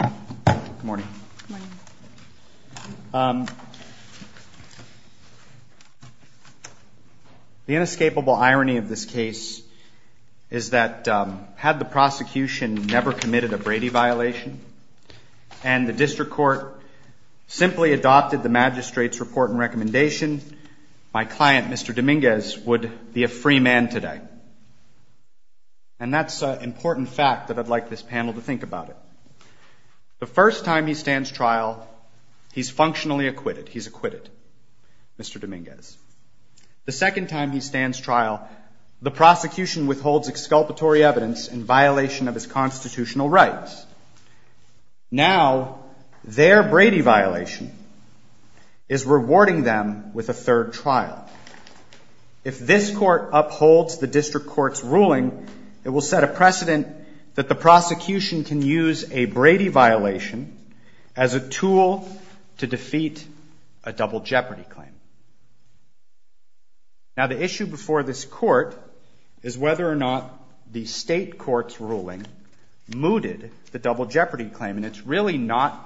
Good morning. The inescapable irony of this case is that had the prosecution never committed a Brady violation and the district court simply adopted the magistrate's report and recommendation, my client, Mr. Dominguez, would be a free man today. And that's an important fact that I'd like this panel to think about it. The first time he stands trial, he's functionally acquitted. He's acquitted, Mr. Dominguez. The second time he stands trial, the prosecution withholds exculpatory evidence in violation of his constitutional rights. Now, their Brady violation is rewarding them with a third trial. If this court upholds the district court's ruling, it will set a precedent that the prosecution can use a Brady violation as a tool to defeat a double jeopardy claim. Now, the issue before this court is whether or not the state court's ruling mooted the double jeopardy claim. And it's really not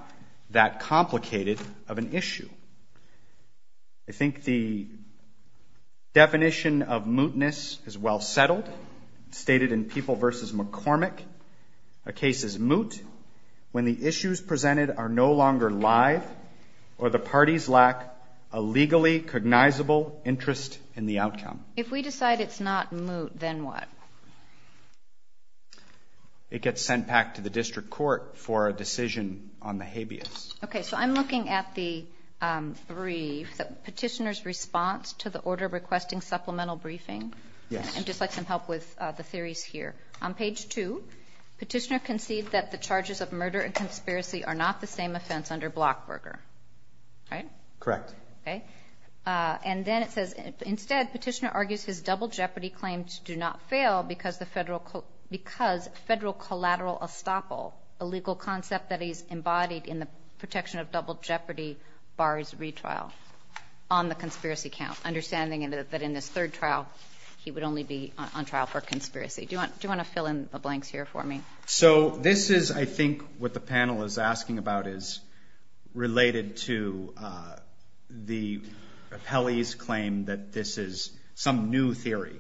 that complicated of an issue. I think the definition of mootness is well settled. It's stated in People v. McCormick, a case is moot when the issues presented are no longer live or the parties lack a legally cognizable interest in the outcome. If we decide it's not moot, then what? It gets sent back to the district court for a decision on the habeas. Okay, so I'm looking at the brief. Petitioner's response to the order requesting supplemental briefing? Yes. I'd just like some help with the theories here. On page 2, Petitioner concedes that the charges of murder and conspiracy are not the same offense under Blockberger. Right? Correct. Okay. And then it says, instead, Petitioner argues his double jeopardy claims do not fail because federal collateral estoppel, a legal concept that is embodied in the protection of double jeopardy bars retrial on the conspiracy count, understanding that in this third trial, he would only be on trial for conspiracy. Do you want to fill in the blanks here for me? So this is, I think, what the panel is asking about is related to the appellee's claim that this is some new theory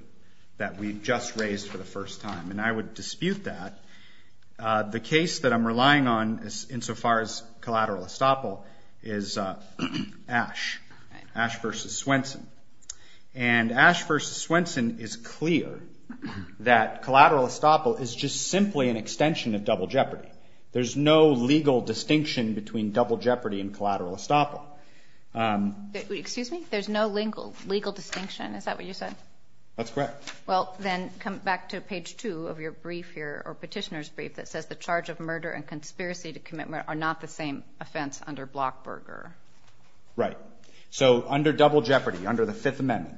that we've just raised for the first time. And I would dispute that. The case that I'm relying on insofar as collateral estoppel is Ash. Ash v. Swenson. And Ash v. Swenson is clear that collateral estoppel is just simply an extension of double jeopardy. There's no legal distinction between double jeopardy and collateral estoppel. Excuse me? There's no legal distinction? Is that what you said? That's correct. Well, then come back to page 2 of your brief here, or Petitioner's brief, that says the charge of murder and conspiracy to commit murder are not the same offense under Blockberger. Right. So under double jeopardy, under the Fifth Amendment,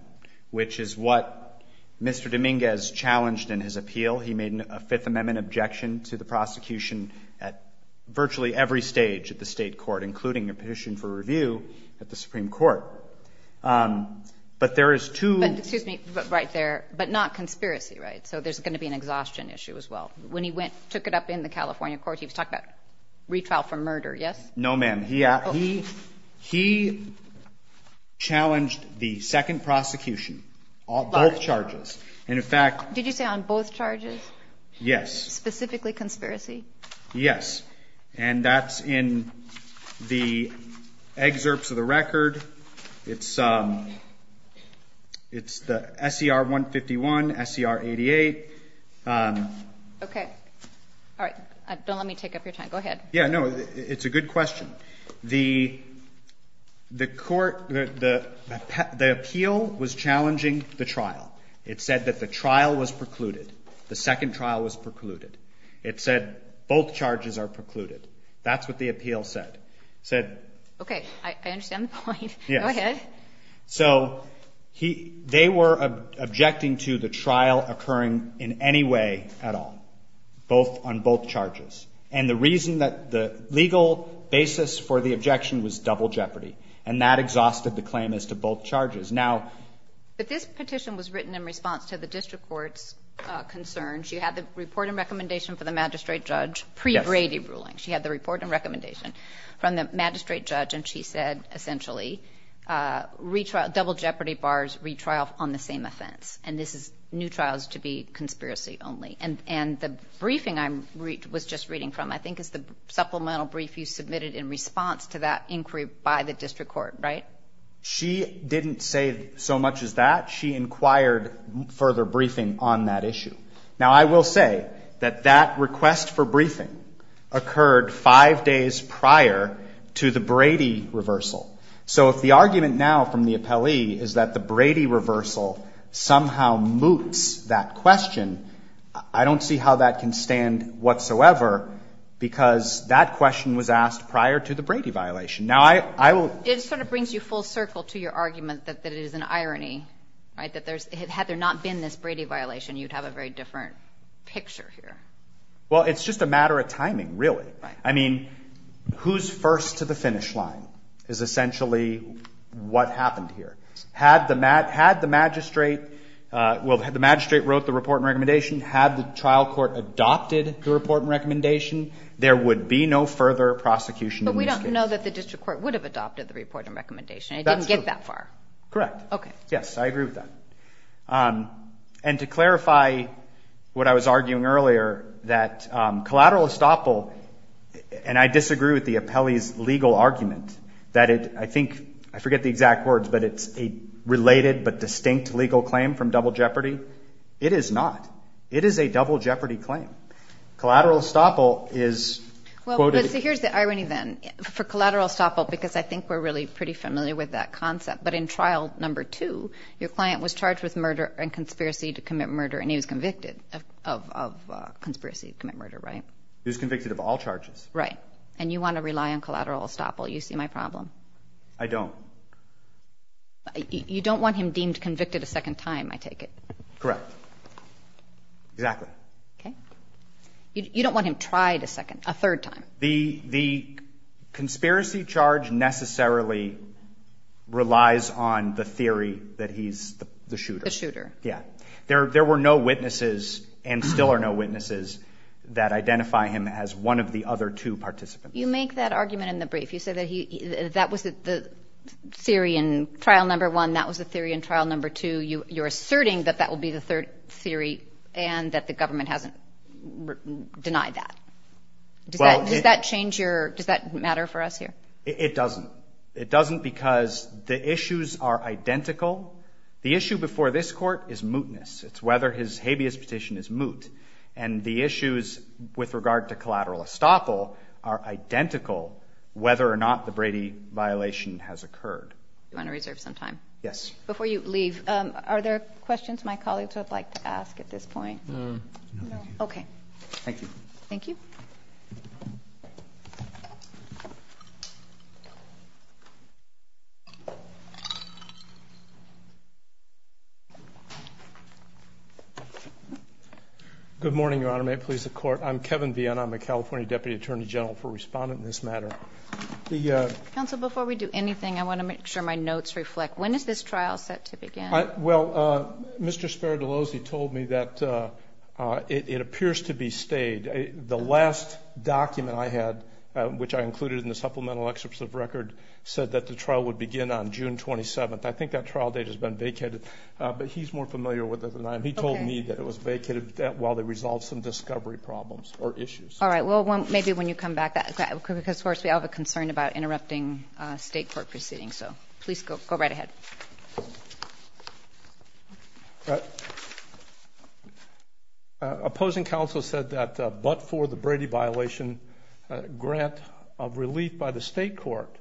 which is what Mr. Dominguez challenged in his appeal, he made a Fifth Amendment objection to the prosecution at virtually every stage of the State court, including a petition for review at the Supreme Court. But there is two But excuse me, right there, but not conspiracy, right? So there's going to be an exhaustion issue as well. When he went, took it up in the California court, he was talking about retrial for murder, yes? No, ma'am. He challenged the second prosecution on both charges. And in fact Did you say on both charges? Yes. Specifically conspiracy? Yes. And that's in the excerpts of the record. It's the SCR 151, SCR 88. Okay. All right. Don't let me take up your time. Go ahead. Yeah, no, it's a good question. The court, the appeal was challenging the trial. It said that the trial was precluded. The second trial was precluded. It said both charges are precluded. That's what the appeal said. It said Okay. I understand the point. Go ahead. Yes. So they were objecting to the trial occurring in any way at all, both on both charges. And the reason that the legal basis for the objection was double jeopardy, and that exhausted the claim as to both charges. But this petition was written in response to the district court's concern. She had the report and recommendation for the magistrate judge pre-Brady ruling. She had the report and recommendation from the magistrate judge, and she said, essentially, double jeopardy bars, retrial on the same offense. And this is new trials to be conspiracy only. And the briefing I was just reading from, I think, is the supplemental brief you submitted in response to that inquiry by the district court, right? She didn't say so much as that. She inquired further briefing on that issue. Now, I will say that that request for briefing occurred five days prior to the Brady reversal. So if the argument now from the appellee is that the Brady reversal somehow moots that question, I don't see how that can stand whatsoever, because that question was asked prior to the Brady violation. Now, I will It sort of brings you full circle to your argument that it is an irony, right, that there's had there not been this Brady violation, you'd have a very different picture here. Well, it's just a matter of timing, really. Right. I mean, who's first to the finish line is essentially what happened here. Had the magistrate, well, had the magistrate wrote the report and recommendation, had the trial court adopted the report and recommendation, there would be no further prosecution in this case. I do know that the district court would have adopted the report and recommendation. It didn't get that far. Correct. Okay. Yes, I agree with that. And to clarify what I was arguing earlier, that collateral estoppel, and I disagree with the appellee's legal argument that it, I think, I forget the exact words, but it's a related but distinct legal claim from double jeopardy. It is not. It is a double jeopardy claim. Collateral estoppel is quoted Here's the irony then. For collateral estoppel, because I think we're really pretty familiar with that concept, but in trial number two, your client was charged with murder and conspiracy to commit murder, and he was convicted of conspiracy to commit murder, right? He was convicted of all charges. Right. And you want to rely on collateral estoppel. You see my problem. I don't. You don't want him deemed convicted a second time, I take it. Correct. Exactly. Okay. You don't want him tried a second, a third time. The conspiracy charge necessarily relies on the theory that he's the shooter. The shooter. Yeah. There were no witnesses and still are no witnesses that identify him as one of the other two participants. You make that argument in the brief. You say that that was the theory in trial number one, that was the theory in trial number two. You're asserting that that will be the third theory and that the government hasn't denied that. Does that change your, does that matter for us here? It doesn't. It doesn't because the issues are identical. The issue before this court is mootness. It's whether his habeas petition is moot. And the issues with regard to collateral estoppel are identical whether or not the Brady violation has occurred. Do you want to reserve some time? Yes. Before you leave, are there questions my colleagues would like to ask at this point? No. Okay. Thank you. Thank you. Good morning, Your Honor. May it please the Court. I'm Kevin Vienne. I'm a California Deputy Attorney General for Respondent in this matter. Counsel, before we do anything, I want to make sure my notes reflect. When is this trial set to begin? Well, Mr. Sparadallosi told me that it appears to be stayed. The last document I had, which I included in the supplemental excerpts of record, said that the trial would begin on June 27th. I think that trial date has been vacated. But he's more familiar with it than I am. He told me that it was vacated while they resolved some discovery problems or issues. All right. Well, maybe when you come back. Because, of course, we all have a concern about interrupting state court proceedings. So please go right ahead. Opposing counsel said that but for the Brady violation grant of relief by the state court,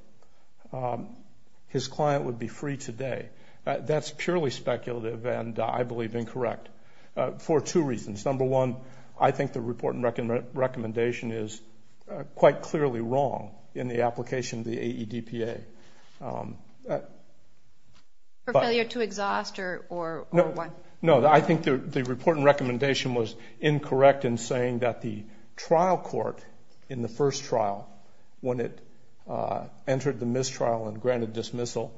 his client would be free today. That's purely speculative and I believe incorrect for two reasons. Number one, I think the report and recommendation is quite clearly wrong in the application of the AEDPA. For failure to exhaust or what? No, I think the report and recommendation was incorrect in saying that the trial court in the first trial, when it entered the mistrial and granted dismissal,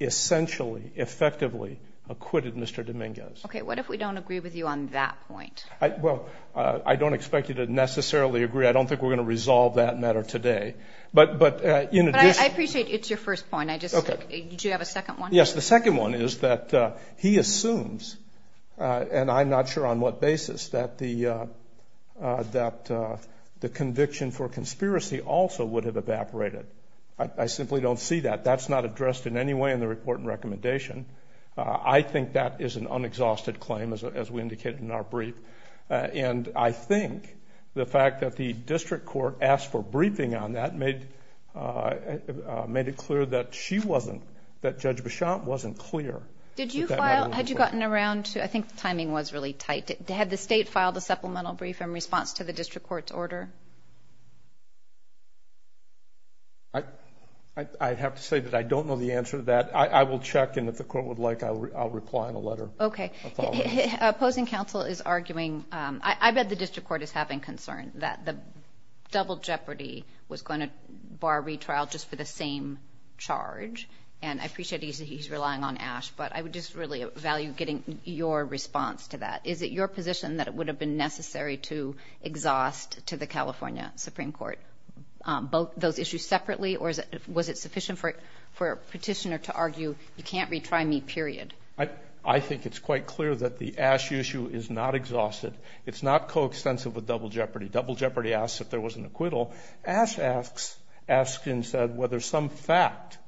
essentially, effectively acquitted Mr. Dominguez. Okay. What if we don't agree with you on that point? Well, I don't expect you to necessarily agree. I don't think we're going to resolve that matter today. But in addition. I appreciate it's your first point. Okay. Do you have a second one? Yes. The second one is that he assumes, and I'm not sure on what basis, that the conviction for conspiracy also would have evaporated. I simply don't see that. That's not addressed in any way in the report and recommendation. I think that is an unexhausted claim, as we indicated in our brief, and I think the fact that the district court asked for briefing on that made it clear that she wasn't, that Judge Beauchamp wasn't clear. Did you file, had you gotten around to, I think the timing was really tight. Had the state filed a supplemental brief in response to the district court's order? I have to say that I don't know the answer to that. I will check, and if the court would like, I'll reply in a letter. Okay. Opposing counsel is arguing. I bet the district court is having concern that the double jeopardy was going to bar retrial just for the same charge, and I appreciate he's relying on Ash, but I would just really value getting your response to that. Is it your position that it would have been necessary to exhaust to the California Supreme Court both those issues separately, or was it sufficient for a petitioner to argue you can't retry me, period? I think it's quite clear that the Ash issue is not exhausted. It's not coextensive with double jeopardy. Double jeopardy asks if there was an acquittal. Ash asks, Askin said, whether some fact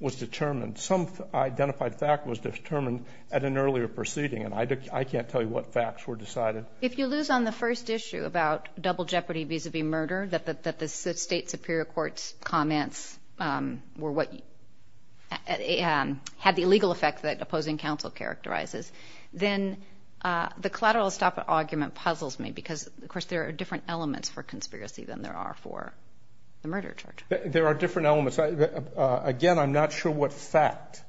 was determined. Some identified fact was determined at an earlier proceeding, and I can't tell you what facts were decided. If you lose on the first issue about double jeopardy vis-a-vis murder, that the state superior court's comments were what had the illegal effect that opposing counsel characterizes, then the collateral stop argument puzzles me because, of course, there are different elements for conspiracy than there are for the murder charge. There are different elements. Again, I'm not sure what fact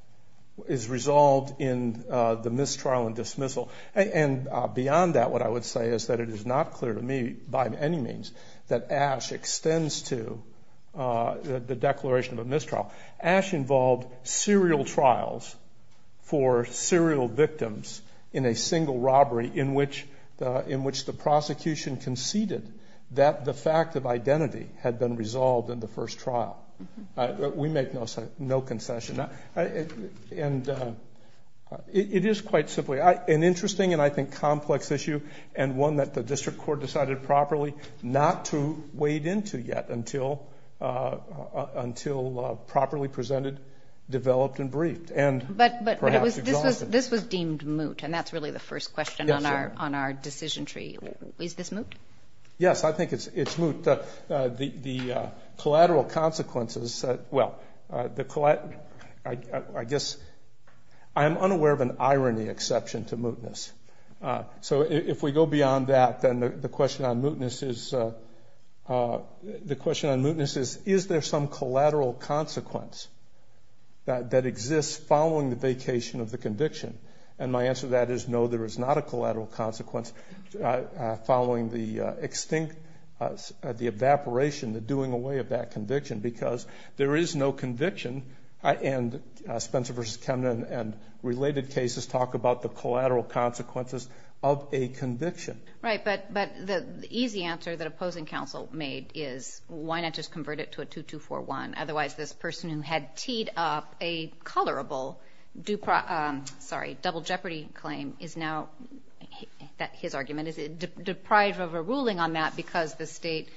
is resolved in the mistrial and dismissal, and beyond that what I would say is that it is not clear to me by any means that Ash extends to the declaration of a mistrial. Ash involved serial trials for serial victims in a single robbery in which the prosecution conceded that the fact of identity had been resolved in the first trial. We make no concession. And it is quite simply an interesting and, I think, complex issue and one that the district court decided properly not to wade into yet until properly presented, developed, and briefed and perhaps exhausted. But this was deemed moot, and that's really the first question on our decision tree. Is this moot? Yes, I think it's moot. The collateral consequences, well, I guess I'm unaware of an irony exception to mootness. So if we go beyond that, then the question on mootness is, is there some collateral consequence that exists following the vacation of the conviction? And my answer to that is no, there is not a collateral consequence following the extinct, the evaporation, the doing away of that conviction, because there is no conviction, and Spencer v. Kemner and related cases talk about the collateral consequences of a conviction. Right, but the easy answer that opposing counsel made is why not just convert it to a 2241? Otherwise, this person who had teed up a colorable, sorry, double jeopardy claim is now, his argument is deprived of a ruling on that because the state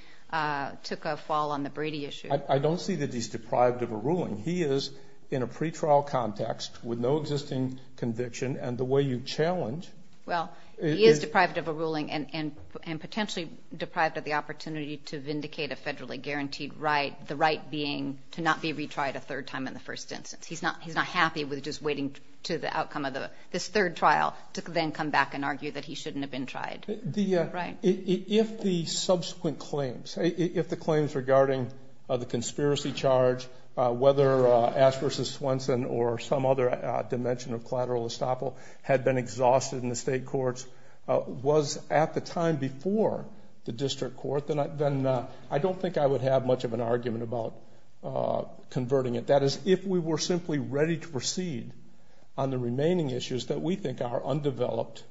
took a fall on the Brady issue. I don't see that he's deprived of a ruling. He is in a pretrial context with no existing conviction, and the way you challenge is. He is deprived of a ruling and potentially deprived of the opportunity to vindicate a federally guaranteed right, the right being to not be retried a third time in the first instance. He's not happy with just waiting to the outcome of this third trial to then come back and argue that he shouldn't have been tried. If the subsequent claims, if the claims regarding the conspiracy charge, whether Ash versus Swenson or some other dimension of collateral estoppel had been exhausted in the state courts, was at the time before the district court, then I don't think I would have much of an argument about converting it. That is, if we were simply ready to proceed on the remaining issues that we think are undeveloped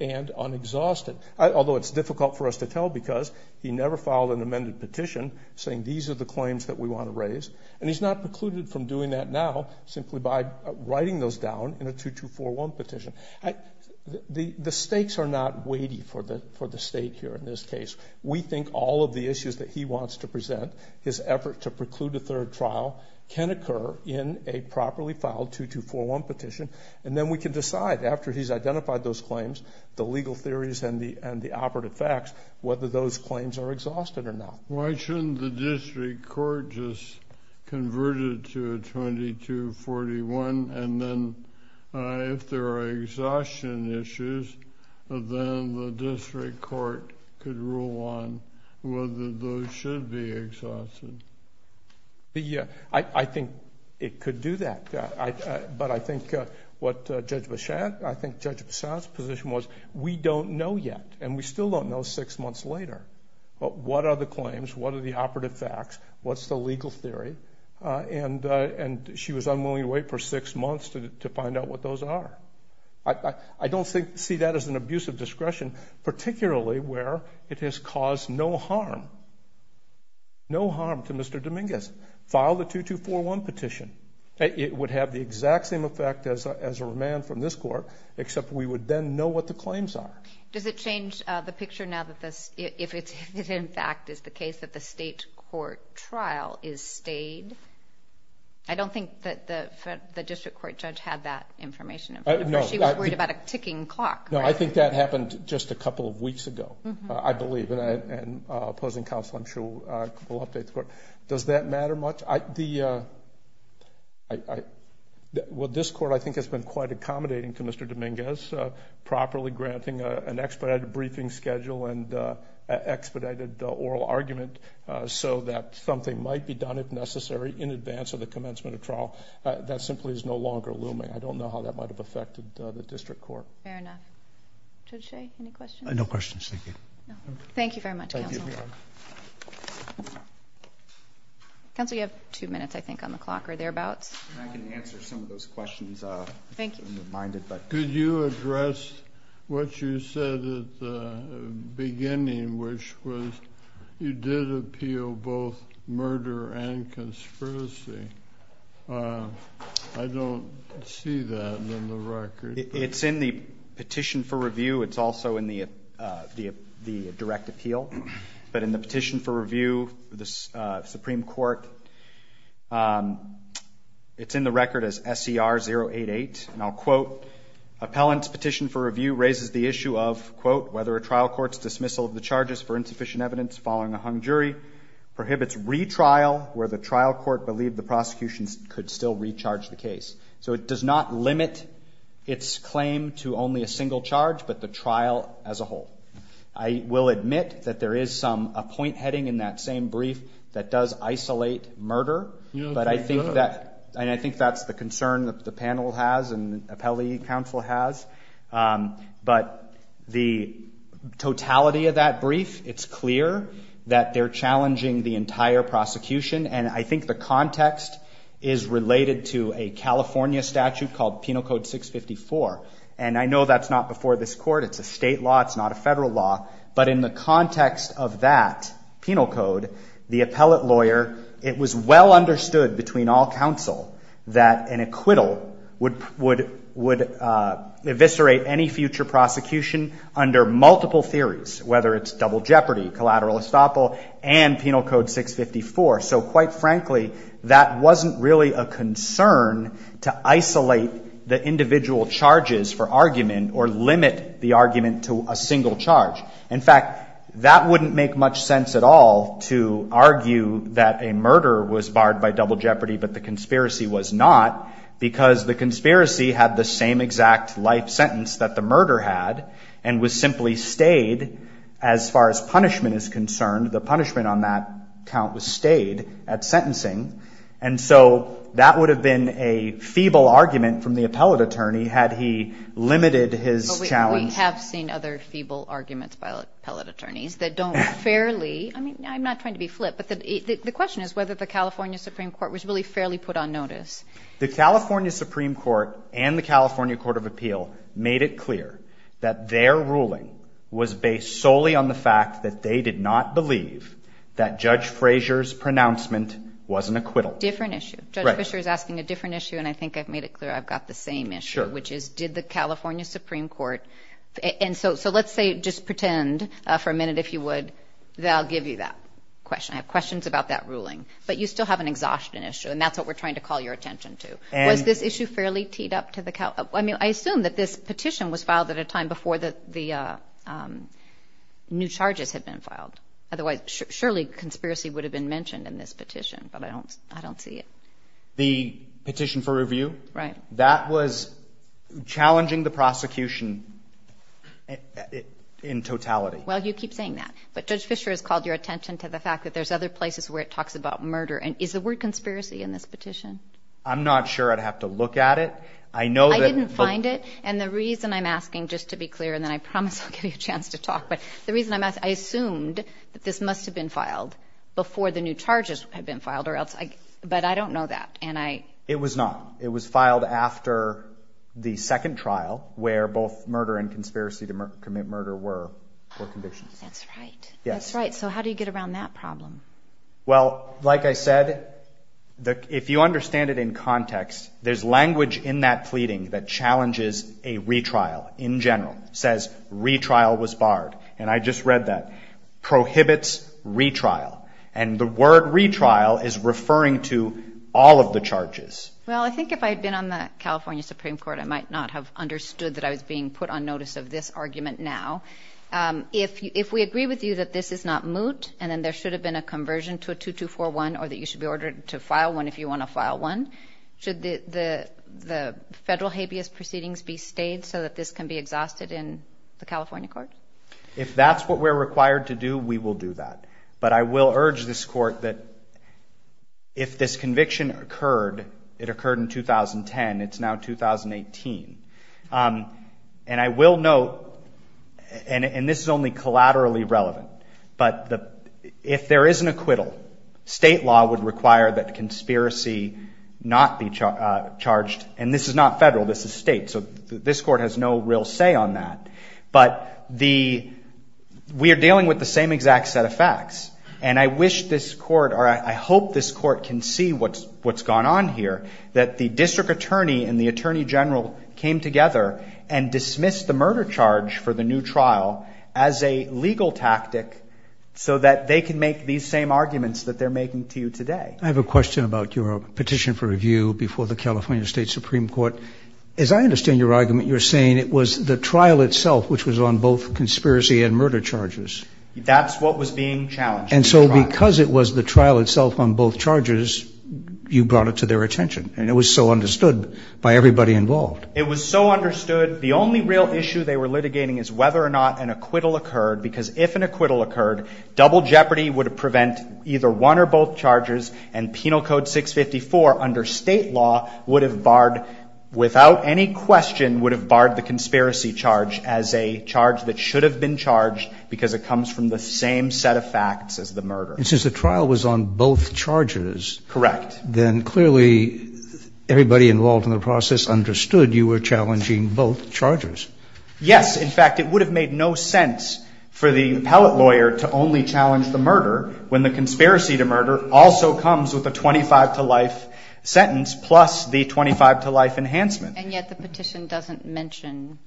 and unexhausted, although it's difficult for us to tell because he never filed an amended petition saying these are the claims that we want to raise, and he's not precluded from doing that now simply by writing those down in a 2241 petition. The stakes are not weighty for the state here in this case. We think all of the issues that he wants to present, his effort to preclude a third trial, can occur in a properly filed 2241 petition, and then we can decide after he's identified those claims, the legal theories and the operative facts, whether those claims are exhausted or not. Why shouldn't the district court just convert it to a 2241, and then if there are exhaustion issues, then the district court could rule on whether those should be exhausted? I think it could do that. But I think what Judge Besant's position was, we don't know yet, and we still don't know six months later. What are the claims? What are the operative facts? What's the legal theory? And she was unwilling to wait for six months to find out what those are. I don't see that as an abuse of discretion, particularly where it has caused no harm, no harm to Mr. Dominguez. File the 2241 petition. It would have the exact same effect as a remand from this court, except we would then know what the claims are. Does it change the picture now if it, in fact, is the case that the state court trial is stayed? I don't think that the district court judge had that information in front of her. She was worried about a ticking clock. No, I think that happened just a couple of weeks ago, I believe. And opposing counsel, I'm sure, will update the court. Does that matter much? Well, this court, I think, has been quite accommodating to Mr. Dominguez, properly granting an expedited briefing schedule and expedited oral argument so that something might be done, if necessary, in advance of the commencement of trial. That simply is no longer looming. I don't know how that might have affected the district court. Fair enough. Judge Shea, any questions? No questions. Thank you. Thank you very much, counsel. Thank you. Counsel, you have two minutes, I think, on the clock or thereabouts. I can answer some of those questions. Thank you. Could you address what you said at the beginning, which was you did appeal both murder and conspiracy? I don't see that in the record. It's in the petition for review. It's also in the direct appeal. But in the petition for review, the Supreme Court, it's in the record as SCR 088. And I'll quote, Appellant's petition for review raises the issue of, quote, whether a trial court's dismissal of the charges for insufficient evidence following a hung jury prohibits retrial where the trial court believed the prosecution could still recharge the case. So it does not limit its claim to only a single charge but the trial as a whole. I will admit that there is a point heading in that same brief that does isolate murder. But I think that's the concern that the panel has and appellee counsel has. But the totality of that brief, it's clear that they're challenging the entire prosecution. And I think the context is related to a California statute called Penal Code 654. And I know that's not before this court. It's a state law. It's not a federal law. But in the context of that penal code, the appellate lawyer, it was well understood between all counsel that an acquittal would eviscerate any future prosecution under multiple theories, whether it's double jeopardy, collateral estoppel, and Penal Code 654. So quite frankly, that wasn't really a concern to isolate the individual charges for argument or limit the argument to a single charge. In fact, that wouldn't make much sense at all to argue that a murder was barred by double jeopardy but the conspiracy was not because the conspiracy had the same exact life sentence that the murder had and was simply stayed as far as punishment is concerned. The punishment on that count was stayed at sentencing. And so that would have been a feeble argument from the appellate attorney had he limited his challenge. But we have seen other feeble arguments by appellate attorneys that don't fairly, I mean, I'm not trying to be flip, but the question is whether the California Supreme Court was really fairly put on notice. The California Supreme Court and the California Court of Appeal made it clear that their ruling was based solely on the fact that they did not believe that Judge Frazier's pronouncement was an acquittal. Different issue. Judge Fisher is asking a different issue and I think I've made it clear I've got the same issue. Sure. Which is did the California Supreme Court, and so let's say, just pretend for a minute if you would, that I'll give you that question. I have questions about that ruling. But you still have an exhaustion issue and that's what we're trying to call your attention to. Was this issue fairly teed up to the, I mean, I assume that this petition was filed at a time before the new charges had been filed. Otherwise, surely conspiracy would have been mentioned in this petition, but I don't see it. The petition for review? Right. That was challenging the prosecution in totality. Well, you keep saying that. But Judge Fisher has called your attention to the fact that there's other places where it talks about murder. And is the word conspiracy in this petition? I'm not sure. I'd have to look at it. I know that. I didn't find it. And the reason I'm asking, just to be clear, and then I promise I'll give you a chance to talk, but the reason I'm asking, I assumed that this must have been filed before the new charges had been filed. But I don't know that. It was not. It was filed after the second trial where both murder and conspiracy to commit murder were convictions. That's right. That's right. So how do you get around that problem? Well, like I said, if you understand it in context, there's language in that pleading that challenges a retrial in general. It says retrial was barred. And I just read that. Prohibits retrial. And the word retrial is referring to all of the charges. Well, I think if I had been on the California Supreme Court, I might not have understood that I was being put on notice of this argument now. If we agree with you that this is not moot, and then there should have been a conversion to a 2241, or that you should be ordered to file one if you want to file one, should the federal habeas proceedings be stayed so that this can be exhausted in the California court? If that's what we're required to do, we will do that. But I will urge this court that if this conviction occurred, it occurred in 2010. It's now 2018. And I will note, and this is only collaterally relevant, but if there is an acquittal, state law would require that conspiracy not be charged. And this is not federal. This is state. So this court has no real say on that. But we are dealing with the same exact set of facts. And I wish this court, or I hope this court can see what's gone on here, that the district attorney and the attorney general came together and dismissed the murder charge for the new trial as a legal tactic so that they can make these same arguments that they're making to you today. I have a question about your petition for review before the California State Supreme Court. As I understand your argument, you're saying it was the trial itself which was on both conspiracy and murder charges. That's what was being challenged. And so because it was the trial itself on both charges, you brought it to their attention. And it was so understood by everybody involved. It was so understood. The only real issue they were litigating is whether or not an acquittal occurred, because if an acquittal occurred, double jeopardy would prevent either one or both charges, and Penal Code 654 under state law would have barred, without any question, would have barred the conspiracy charge as a charge that should have been charged because it comes from the same set of facts as the murder. And since the trial was on both charges. Correct. Then clearly everybody involved in the process understood you were challenging both charges. Yes. In fact, it would have made no sense for the appellate lawyer to only challenge the murder when the conspiracy to murder also comes with a 25-to-life sentence plus the 25-to-life enhancement. And yet the petition doesn't mention,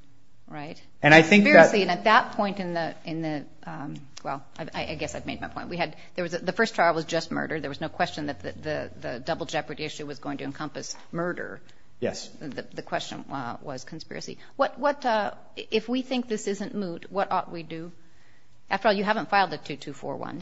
right, conspiracy. And I think that at that point in the – well, I guess I've made my point. We had – the first trial was just murder. There was no question that the double jeopardy issue was going to encompass murder. Yes. The question was conspiracy. What – if we think this isn't moot, what ought we do? After all, you haven't filed a 2241.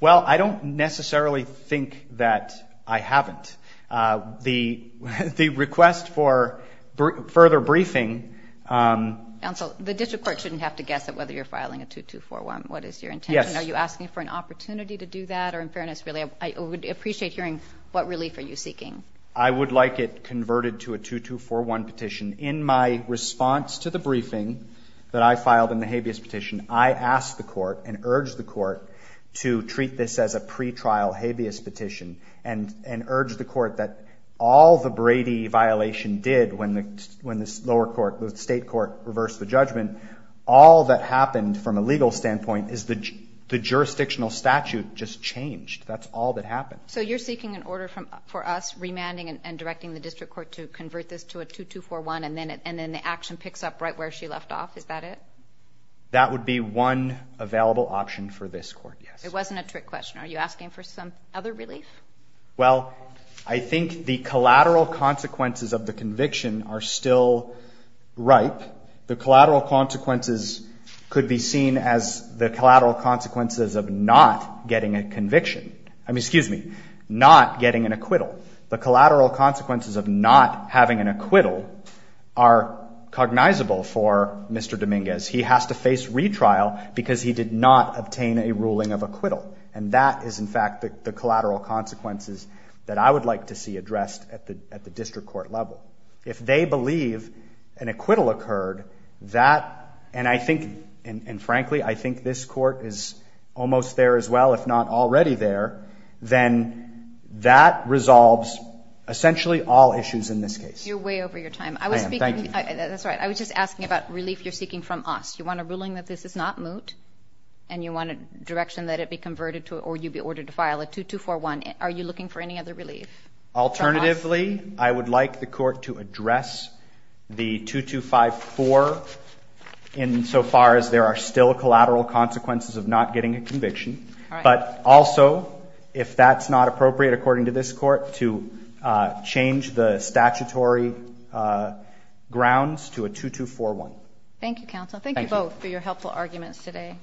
Well, I don't necessarily think that I haven't. The request for further briefing. Counsel, the district court shouldn't have to guess at whether you're filing a 2241. What is your intention? Yes. Are you asking for an opportunity to do that? Or in fairness, really, I would appreciate hearing what relief are you seeking. I would like it converted to a 2241 petition. In my response to the briefing that I filed in the habeas petition, I asked the court and urged the court to treat this as a pretrial habeas petition and urged the court that all the Brady violation did when the lower court, the state court, reversed the judgment, all that happened from a legal standpoint is the jurisdictional statute just changed. That's all that happened. So you're seeking an order for us remanding and directing the district court to convert this to a 2241 and then the action picks up right where she left off. Is that it? That would be one available option for this court, yes. It wasn't a trick question. Are you asking for some other relief? Well, I think the collateral consequences of the conviction are still ripe. The collateral consequences could be seen as the collateral consequences of not getting a conviction. I mean, excuse me, not getting an acquittal. The collateral consequences of not having an acquittal are cognizable for Mr. Dominguez. He has to face retrial because he did not obtain a ruling of acquittal, and that is, in fact, the collateral consequences that I would like to see addressed at the district court level. If they believe an acquittal occurred, that, and I think, and frankly, I think this court is almost there as well, if not already there, then that resolves essentially all issues in this case. You're way over your time. I am. Thank you. That's all right. I was just asking about relief you're seeking from us. You want a ruling that this is not moot and you want a direction that it be converted to Are you looking for any other relief from us? Alternatively, I would like the court to address the 2254 insofar as there are still collateral consequences of not getting a conviction, but also, if that's not appropriate according to this court, to change the statutory grounds to a 2241. Thank you, counsel. Thank you both for your helpful arguments today.